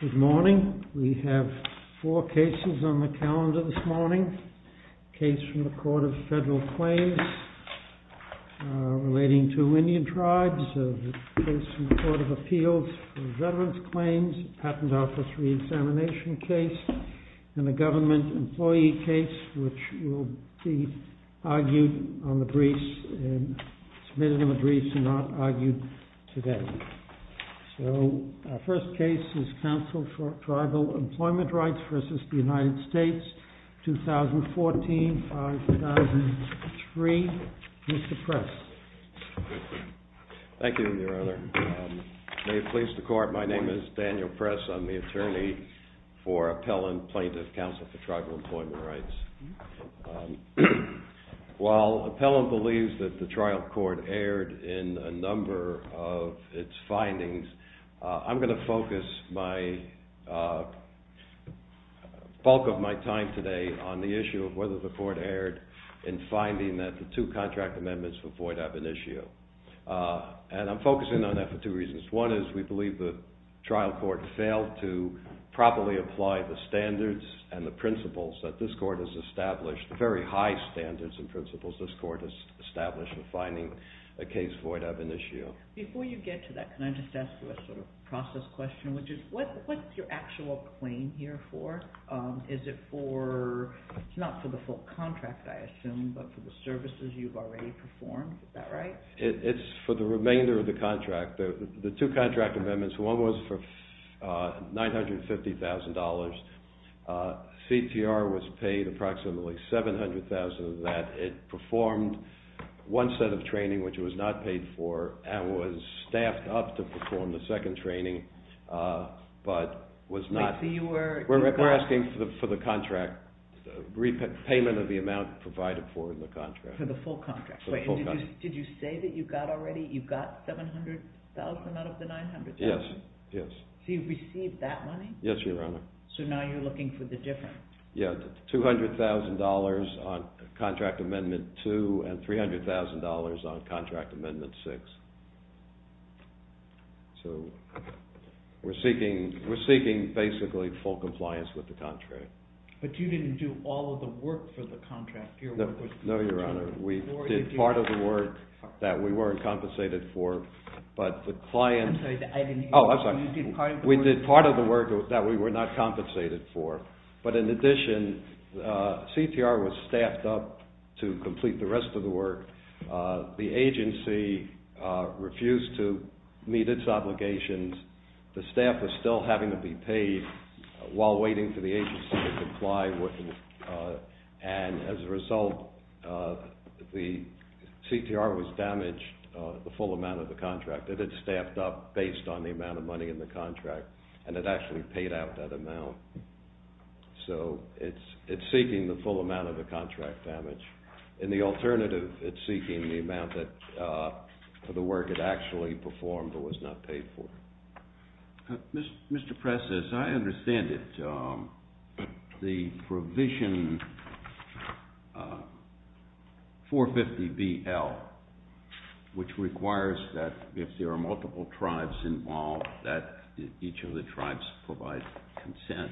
Good morning. We have four cases on the calendar this morning. A case from the Court of Federal Claims relating to Indian tribes, a case from the Court of Appeals for Veterans Claims, a Patent Office Re-examination case, and a Government Employee case which will be argued on the briefs, submitted on the briefs, and not argued today. So our first case is Council for Tribal Employment Rights v. United States, 2014-2003. Mr. Press. Thank you, Your Honor. May it please the Court, my name is Daniel Press. I'm the attorney for Appellant Plaintiff Counsel for Tribal Employment Rights. While Appellant believes that the trial court erred in a number of its findings, I'm going to focus the bulk of my time today on the issue of whether the court erred in finding that the two contract amendments for Floyd Abinishio. And I'm focusing on that for two reasons. One is we believe the trial court failed to properly apply the standards and the principles that this court has established, the very high standards and principles this court has established in finding a case for Floyd Abinishio. Before you get to that, can I just ask you a sort of process question, which is what's your actual claim here for? Is it for, it's not for the full contract I assume, but for the services you've already performed, is that right? It's for the remainder of the contract. The two contract amendments, one was for $950,000. CTR was paid approximately $700,000 of that. It performed one set of training, which it was not paid for, and was staffed up to perform the second training, but was not. We're asking for the contract, payment of the amount Yes, yes. So you've received that money? Yes, Your Honor. So now you're looking for the different? Yeah, $200,000 on contract amendment two and $300,000 on contract amendment six. So we're seeking basically full compliance with the contract. But you didn't do all of the work for the contract? No, Your Honor. We did part of the work that we were compensated for, but the client... I'm sorry, I didn't hear you. Oh, I'm sorry. We did part of the work that we were not compensated for, but in addition, CTR was staffed up to complete the rest of the work. The agency refused to meet its obligations. The staff was still having to be paid while waiting for the agency to comply, and as a result, the CTR was damaged, the full amount of the contract. It had staffed up based on the amount of money in the contract, and it actually paid out that amount. So it's seeking the full amount of the contract damage. In the provision 450BL, which requires that if there are multiple tribes involved, that each of the tribes provide consent,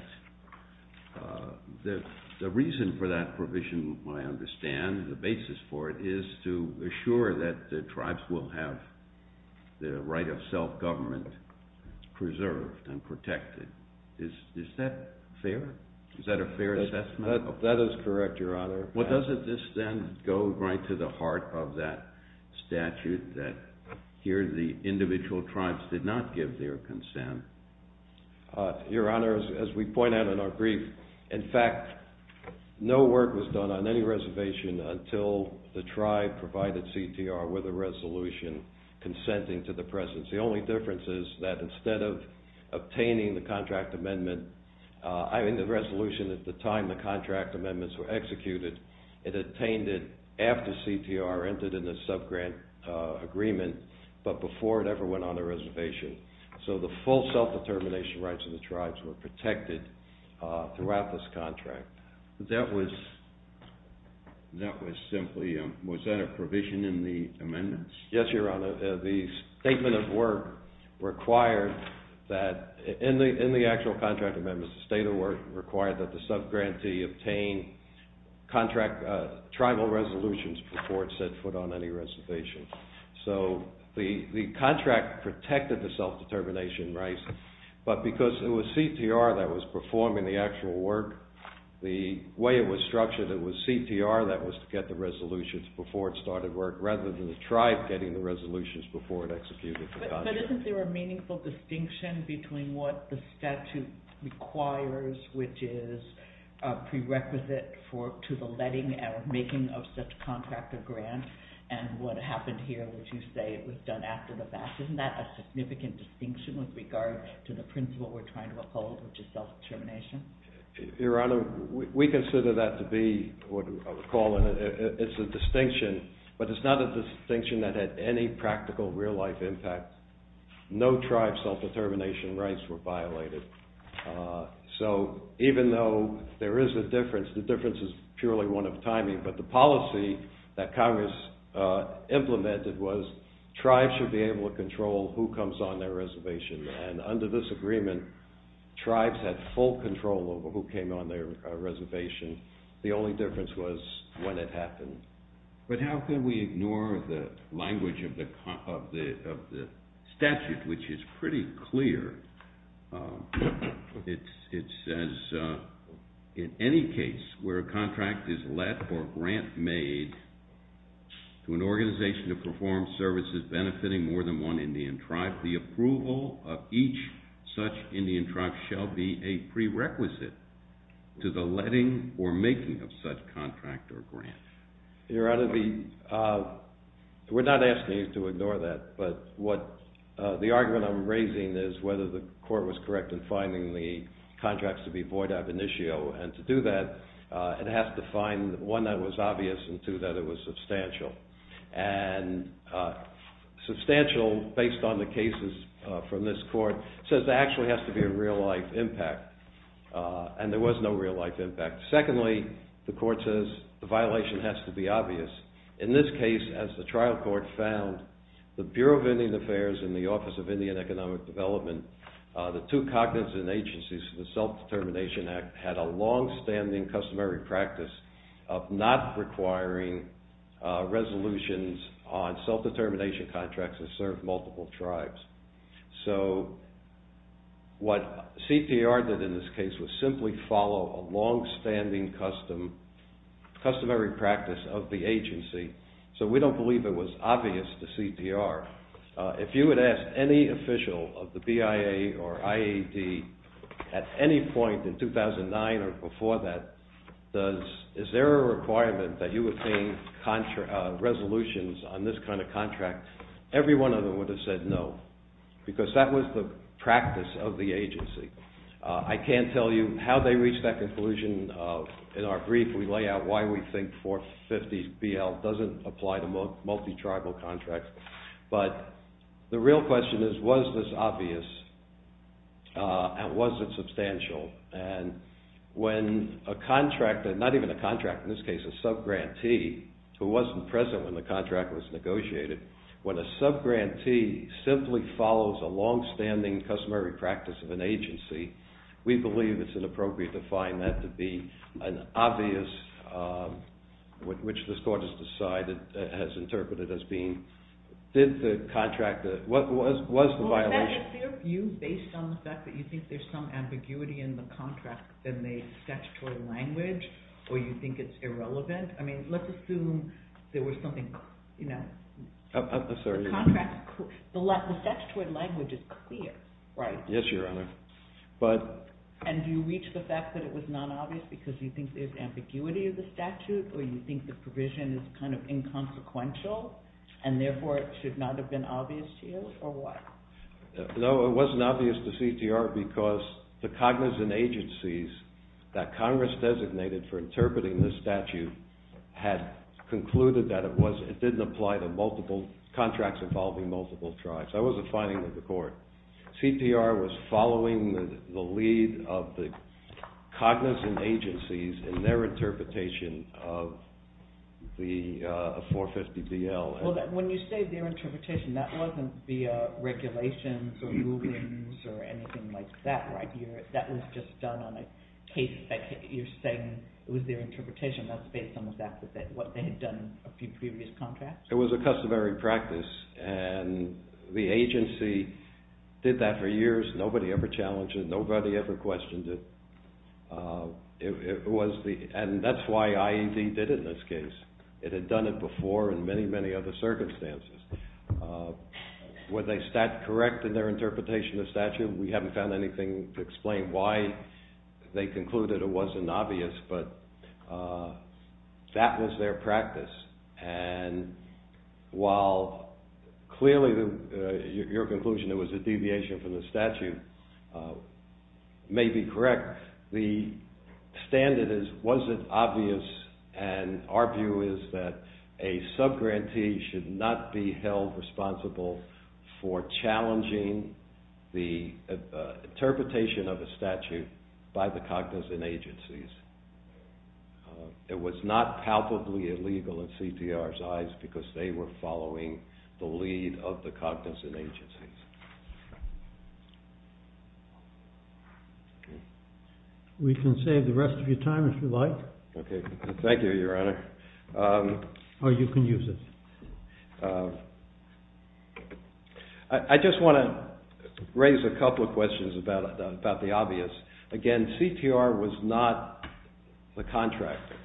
the reason for that is fair? Is that a fair assessment? That is correct, Your Honor. Well, doesn't this then go right to the heart of that statute that here the individual tribes did not give their consent? Your Honor, as we point out in our brief, in fact, no work was done on any reservation until the tribe I mean, the resolution at the time the contract amendments were executed, it attained it after CTR entered in the sub-grant agreement, but before it ever went on a reservation. So the full self-determination rights of the tribes were protected throughout this contract. That was simply, was that a provision in the work required that the sub-grantee obtain contract tribal resolutions before it set foot on any reservation. So the contract protected the self-determination rights, but because it was CTR that was performing the actual work, the way it was structured, it was CTR that was to get the resolutions before it started work, rather than the tribe getting the resolutions before it executed the contract. But isn't there a meaningful distinction between what the statute requires, which is a prerequisite to the letting or making of such contract or grant, and what happened here, which you say was done after the fact. Isn't that a significant distinction with regard to the principle we're trying to uphold, which is self-determination? Your Honor, we consider that to be, I would call it, it's a distinction, but it's not a distinction that had any practical real-life impact. No tribe self-determination rights were violated. So even though there is a difference, the difference is purely one of timing, but the policy that Congress implemented was tribes should be able to control who came on their reservation. The only difference was when it happened. But how can we ignore the language of the statute, which is pretty clear. It says, in any case where a contract is let or grant made to an organization to perform services benefiting more than one Indian tribe, the approval of each such Indian tribe shall be a prerequisite to the letting or making of such contract or grant. Your Honor, we're not asking you to ignore that, but the argument I'm raising is whether the court was correct in finding the contracts to be void ab initio, and to do that, it has to find one that was obvious and two that it was substantial. And substantial, based on the cases from this court, says there actually has to be a real-life impact, and there was no real-life impact. Secondly, the court says the violation has to be obvious. In this case, as the trial court found, the Bureau of Indian Affairs and the Office of Indian Economic Development, the two cognizant agencies for the Self-Determination Act, had a long-standing customary practice of not requiring resolutions on self-determination contracts to serve multiple tribes. So, what CTR did in this case was simply follow a long-standing customary practice of the agency, so we don't believe it was obvious to CTR. If you would ask any official of the BIA or IAD at any point in 2009 or before that, is there a requirement that you obtain resolutions on this kind of contract, every one of them would have said no, because that was the practice of the agency. I can't tell you how they reached that conclusion. In our brief, we lay out why we think 450BL doesn't apply to multi-tribal contracts, but the real question is, was this obvious and was it substantial, and when a contractor, not even a contractor, in this case a sub-grantee, who wasn't present when the contract was negotiated, when a sub-grantee simply follows a long-standing customary practice of an agency, we believe it's inappropriate to find that to be an obvious, which the court has decided, has interpreted as being, did the contractor, what was the violation? Is there a view based on the fact that you think there's some ambiguity in the contract in the statutory language, or you think it's irrelevant? I mean, let's assume there was something, you know, the contract, the statutory language is clear, right? And do you reach the fact that it was not obvious because you think there's ambiguity of the statute, or you think the provision is kind of inconsequential, and therefore it should not have been obvious to you, or what? No, it wasn't obvious to CTR because the cognizant agencies that Congress designated for interpreting this statute had concluded that it didn't apply to multiple contracts involving multiple tribes. That was a finding of the court. CTR was following the lead of the cognizant agencies in their interpretation of 450BL. Well, when you say their interpretation, that wasn't via regulations or rulings or anything like that, right? That was just done on a case that you're saying was their interpretation, that's based on the fact that what they had done a few previous contracts? It was a customary practice, and the agency did that for years. Nobody ever challenged it. Nobody ever questioned it. And that's why IED did it in this case. It had done it before in many, many other circumstances. Were they correct in their interpretation of the statute? We haven't found anything to explain why they concluded it wasn't obvious, but that was their practice. And while clearly your conclusion it was a deviation from the statute may be correct, the standard is, was it obvious? And our view is that a subgrantee should not be held responsible for challenging the interpretation of a statute by the cognizant agencies. It was not palpably illegal in CTR's eyes because they were following the lead of the cognizant agencies. We can save the rest of your time if you like. Okay. Thank you, Your Honor. Or you can use it. I just want to raise a couple of questions about the obvious. Again, CTR was not the contractor,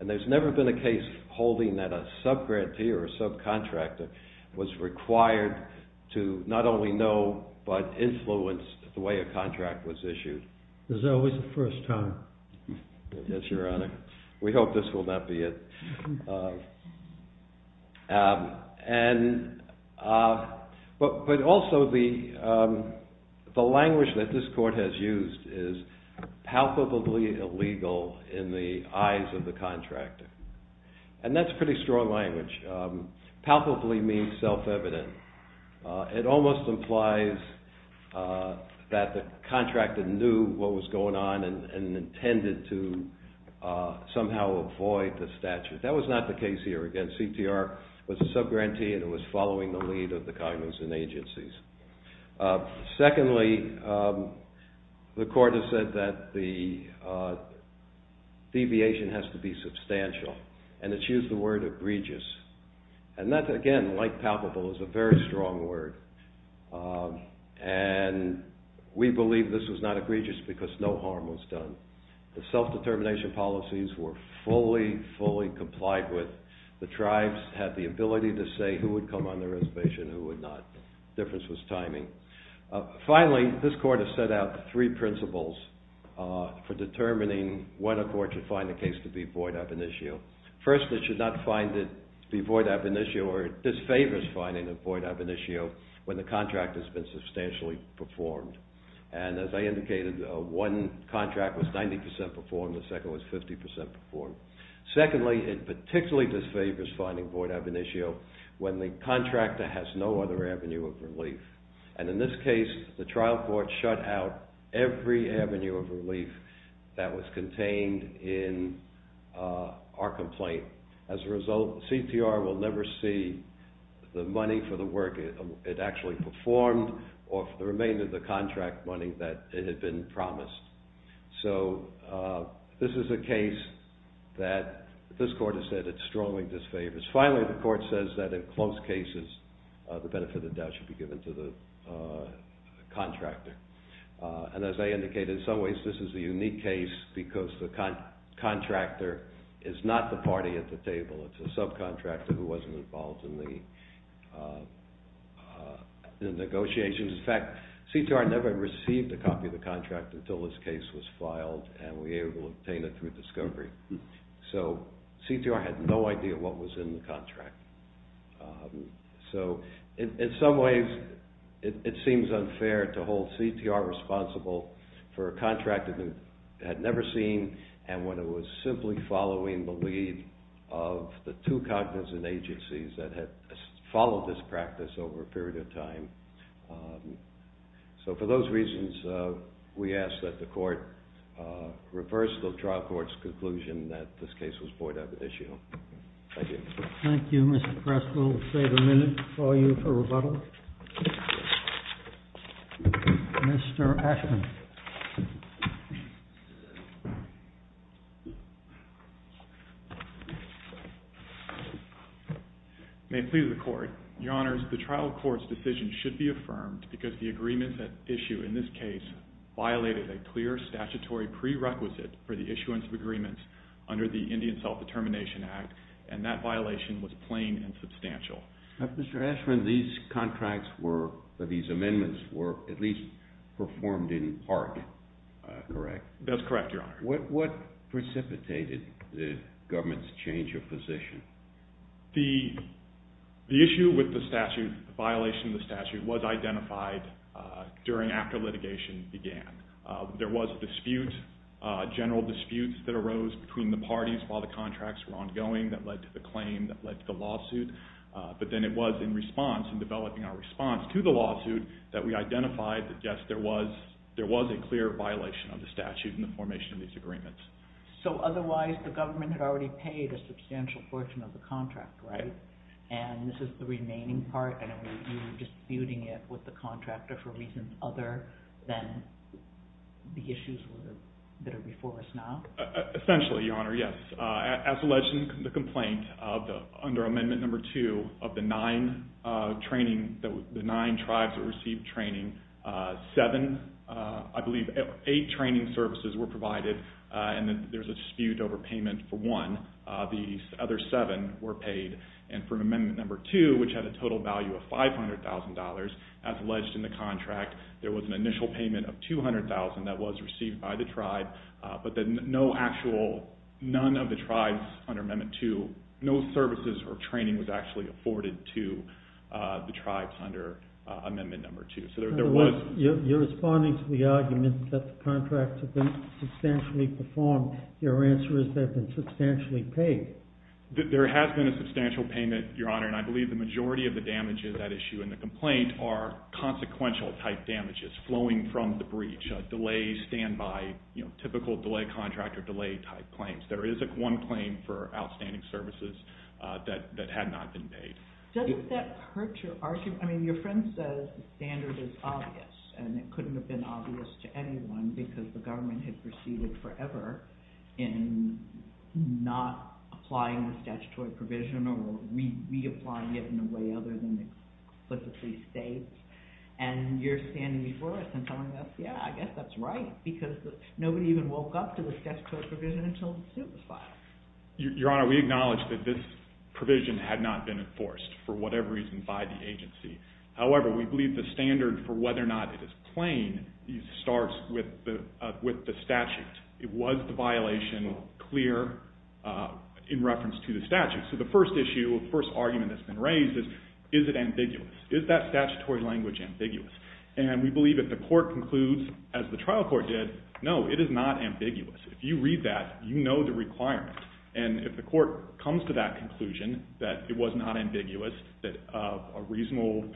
and there's never been a case holding that a subgrantee or a subcontractor was required to not only know but influence the way a contract was issued. It was always the first time. Yes, Your Honor. We hope this will not be it. But also the language that this court has used is palpably illegal in the eyes of the contractor, and that's pretty strong language. Palpably means self-evident. It almost implies that the contractor knew what was going on and intended to somehow avoid the statute. That was not the case here. Again, CTR was a subgrantee and it was following the lead of the cognizant agencies. Secondly, the court has said that the deviation has to be substantial, and it's used the word egregious. And that, again, like palpable, is a very strong word. And we believe this was not egregious because no harm was done. The self-determination policies were fully, fully complied with. The tribes had the ability to say who would come on the reservation and who would not. The difference was timing. Finally, this court has set out three principles for determining when a court should find a case to be void ab initio. First, it should not find it to be void ab initio or disfavors finding it void ab initio when the contract has been substantially performed. And as I indicated, one contract was 90% performed and the second was 50% performed. Secondly, it particularly disfavors finding void ab initio when the contractor has no other avenue of relief. And in this case, the trial court shut out every avenue of relief that was contained in our complaint. As a result, CTR will never see the money for the work it actually performed or the remainder of the contract money that it had been promised. So this is a case that this court has said it strongly disfavors. Finally, the court says that in close cases, the benefit of the doubt should be given to the contractor. And as I indicated, in some ways this is a unique case because the contractor is not the party at the table. It's a subcontractor who wasn't involved in the negotiations. In fact, CTR never received a copy of the contract until this case was filed and we were able to obtain it through discovery. So CTR had no idea what was in the contract. So in some ways, it seems unfair to hold CTR responsible for a contract it had never seen and when it was simply following the lead of the two cognizant agencies that had followed this practice over a period of time. So for those reasons, we ask that the court reverse the trial court's conclusion that this case was void ab initio. Thank you. Thank you, Mr. Preskill. Mr. Ashman. May it please the court. Your honors, the trial court's decision should be affirmed because the agreement at issue in this case violated a clear statutory prerequisite for the issuance of agreements under the Indian Self-Determination Act and that violation was plain and substantial. Mr. Ashman, these contracts were, these amendments were at least performed in part, correct? That's correct, your honor. What precipitated the government's change of position? The issue with the statute, the violation of the statute was identified during after litigation began. There was a dispute, a general dispute that arose between the parties while the contracts were ongoing that led to the claim, that led to the lawsuit. But then it was in response, in developing our response to the lawsuit that we identified that yes, there was a clear violation of the statute in the formation of these agreements. So otherwise the government had already paid a substantial portion of the contract, right? And this is the remaining part and you were disputing it with the contractor for reasons other than the issues that are before us now? Essentially, your honor, yes. As alleged in the complaint, under amendment number two of the nine training, the nine tribes that received training, seven, I believe eight training services were provided and there was a dispute over payment for one. The other seven were paid and for amendment number two, which had a total value of $500,000, as alleged in the contract, there was an initial payment of $200,000 that was received by the tribe. But then no actual, none of the tribes under amendment two, no services or training was actually afforded to the tribes under amendment number two. You're responding to the argument that the contracts have been substantially performed. Your answer is they've been substantially paid. There has been a substantial payment, your honor, and I believe the majority of the damage in that issue in the complaint are consequential type damages flowing from the breach. Delay, standby, you know, typical delay contract or delay type claims. There is one claim for outstanding services that had not been paid. Doesn't that hurt your argument? I mean, your friend says the standard is obvious and it couldn't have been obvious to anyone because the government had proceeded forever in not applying the statutory provision or reapplying it in a way other than it explicitly states. And you're standing before us and telling us, yeah, I guess that's right because nobody even woke up to the statutory provision until the suit was filed. Your honor, we acknowledge that this provision had not been enforced for whatever reason by the agency. However, we believe the standard for whether or not it is plain starts with the statute. It was the violation clear in reference to the statute. So the first issue, the first argument that's been raised is, is it ambiguous? Is that statutory language ambiguous? And we believe if the court concludes, as the trial court did, no, it is not ambiguous. If you read that, you know the requirement. And if the court comes to that conclusion that it was not ambiguous, that a reasonable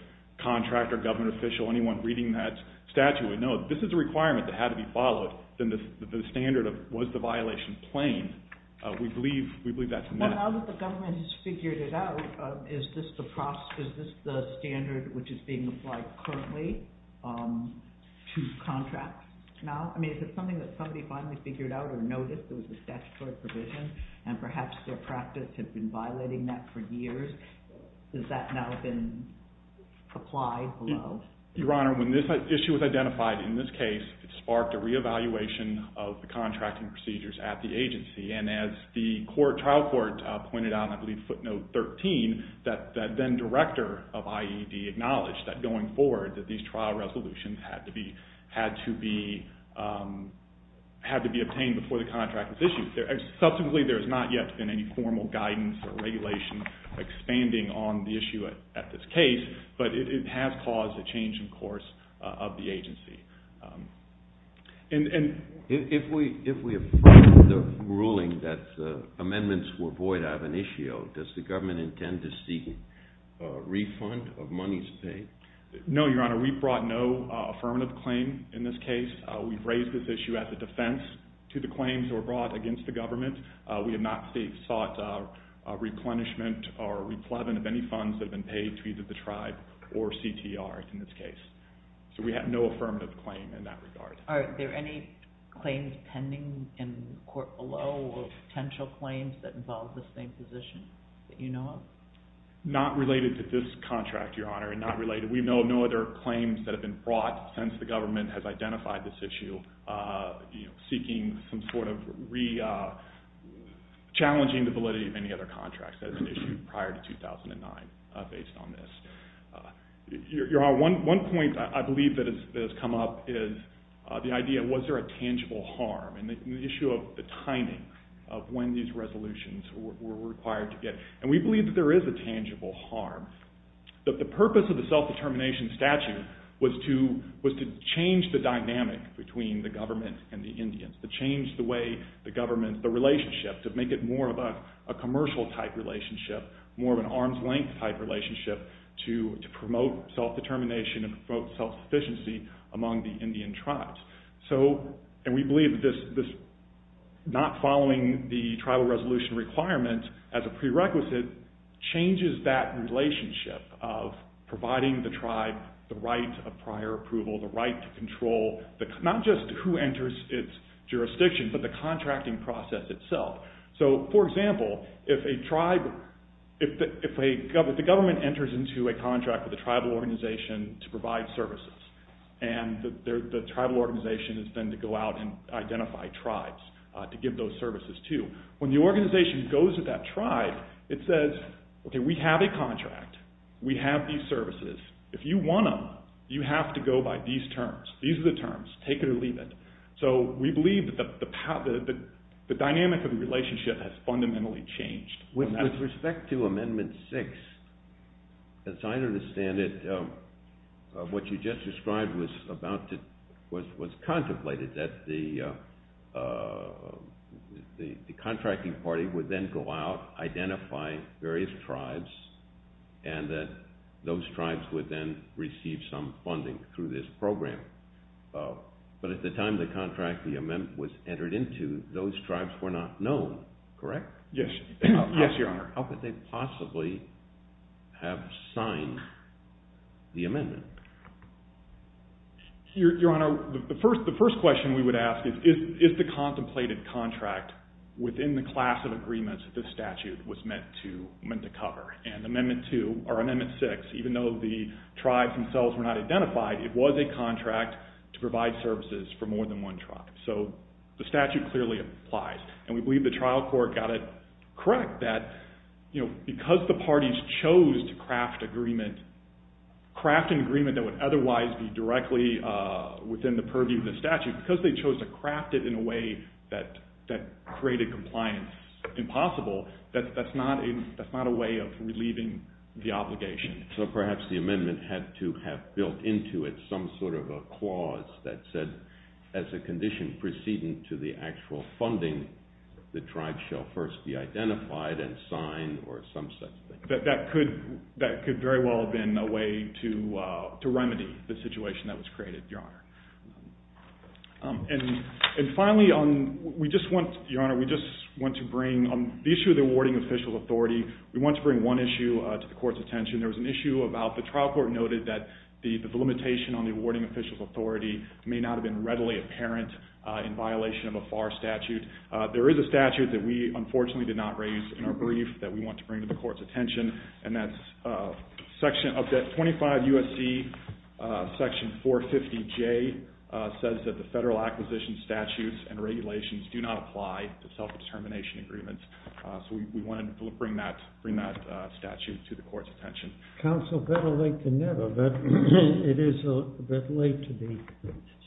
contractor, government official, anyone reading that statute would know this is a requirement that had to be followed, then the standard of was the violation plain, we believe that's a no. But now that the government has figured it out, is this the standard which is being applied currently to contracts now? I mean, is it something that somebody finally figured out or noticed it was a statutory provision and perhaps their practice had been violating that for years? Has that now been applied below? Your honor, when this issue was identified in this case, it sparked a reevaluation of the contracting procedures at the agency. And as the trial court pointed out, I believe footnote 13, that then director of IED acknowledged that going forward that these trial resolutions had to be obtained before the contract was issued. Subsequently, there has not yet been any formal guidance or regulation expanding on the issue at this case, but it has caused a change in course of the agency. And if we approve the ruling that amendments were void of an issue, does the government intend to seek a refund of monies paid? No, your honor, we brought no affirmative claim in this case. We've raised this issue as a defense to the claims that were brought against the government. We have not sought a replenishment or a repleven of any funds that have been paid to either the tribe or CTR in this case. So we have no affirmative claim in that regard. Are there any claims pending in court below or potential claims that involve this same position that you know of? Not related to this contract, your honor, not related. We know of no other claims that have been brought since the government has identified this issue seeking some sort of re-challenging the validity of any other contracts as an issue prior to 2009 based on this. Your honor, one point I believe that has come up is the idea, was there a tangible harm? And the issue of the timing of when these resolutions were required to get. And we believe that there is a tangible harm. The purpose of the self-determination statute was to change the dynamic between the government and the Indians. To change the way the government, the relationship, to make it more of a commercial type relationship, more of an arm's length type relationship to promote self-determination and promote self-sufficiency among the Indian tribes. And we believe that this not following the tribal resolution requirement as a prerequisite changes that relationship of providing the tribe the right of prior approval, the right to control, not just who enters its jurisdiction, but the contracting process itself. So, for example, if a tribe, if the government enters into a contract with a tribal organization to provide services and the tribal organization is then to go out and identify tribes to give those services to. When the organization goes to that tribe, it says, okay, we have a contract. We have these services. If you want them, you have to go by these terms. These are the terms. Take it or leave it. So we believe that the dynamic of the relationship has fundamentally changed. With respect to Amendment 6, as I understand it, what you just described was contemplated, that the contracting party would then go out, identify various tribes, and that those tribes would then receive some funding through this program. But at the time the contract, the amendment was entered into, those tribes were not known, correct? Yes, Your Honor. How could they possibly have signed the amendment? Your Honor, the first question we would ask is, is the contemplated contract within the class of agreements that this statute was meant to cover? And Amendment 2, or Amendment 6, even though the tribes themselves were not identified, it was a contract to provide services for more than one tribe. So the statute clearly applies. And we believe the trial court got it correct that because the parties chose to craft an agreement that would otherwise be directly within the purview of the statute, because they chose to craft it in a way that created compliance impossible, that's not a way of relieving the obligation. So perhaps the amendment had to have built into it some sort of a clause that said, as a condition preceding to the actual funding, the tribes shall first be identified and signed or some such thing. That could very well have been a way to remedy the situation that was created, Your Honor. And finally, Your Honor, we just want to bring, on the issue of the awarding official authority, we want to bring one issue to the court's attention. There was an issue about the trial court noted that the limitation on the awarding official authority may not have been readily apparent in violation of a FAR statute. And there is a statute that we, unfortunately, did not raise in our brief that we want to bring to the court's attention. And that's 25 U.S.C. section 450J says that the federal acquisition statutes and regulations do not apply to self-determination agreements. So we wanted to bring that statute to the court's attention. Counsel, better late than never, but it is a bit late to be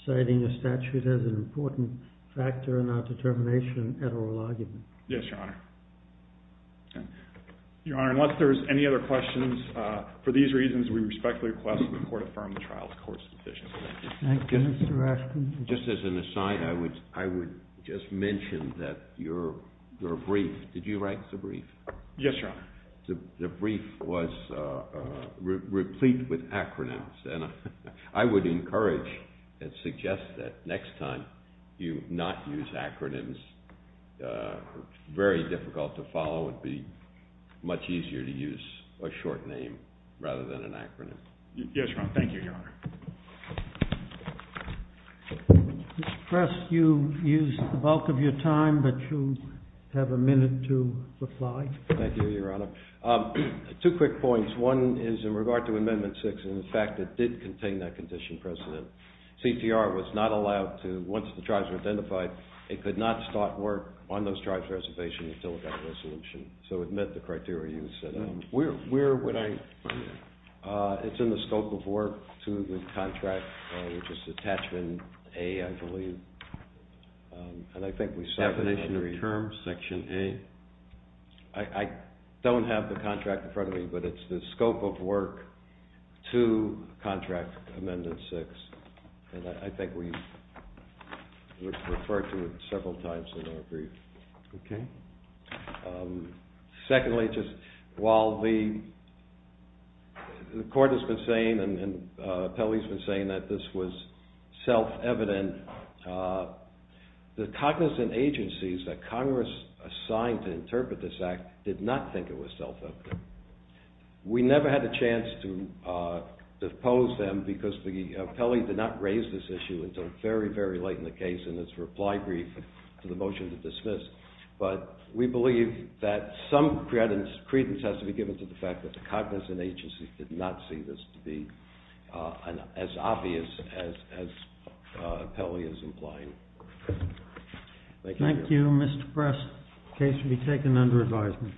citing a statute as an important factor in our determination at oral argument. Yes, Your Honor. Your Honor, unless there's any other questions, for these reasons, we respectfully request that the court affirm the trial court's decision. Thank you, Mr. Raskin. Just as an aside, I would just mention that your brief, did you write the brief? Yes, Your Honor. The brief was replete with acronyms. And I would encourage and suggest that next time you not use acronyms, it's very difficult to follow. It would be much easier to use a short name rather than an acronym. Yes, Your Honor. Thank you, Your Honor. Mr. Prest, you used the bulk of your time, but you have a minute to reply. Thank you, Your Honor. Two quick points. One is in regard to Amendment 6 and the fact that it did contain that condition precedent. CTR was not allowed to, once the tribes were identified, it could not start work on those tribes' reservations until it got a resolution. So it met the criteria you set out. Where would I? It's in the scope of work to the contract, which is attachment A, I believe. Definition of terms, section A? I don't have the contract in front of me, but it's the scope of work to contract Amendment 6. And I think we've referred to it several times in our brief. Okay. Secondly, just while the court has been saying and the appellee has been saying that this was self-evident, the cognizant agencies that Congress assigned to interpret this act did not think it was self-evident. We never had a chance to depose them because the appellee did not raise this issue until very, very late in the case in its reply brief to the motion to dismiss. But we believe that some credence has to be given to the fact that the cognizant agency did not see this to be as obvious as the appellee is implying. Thank you. Thank you, Mr. Press. The case will be taken under advisement.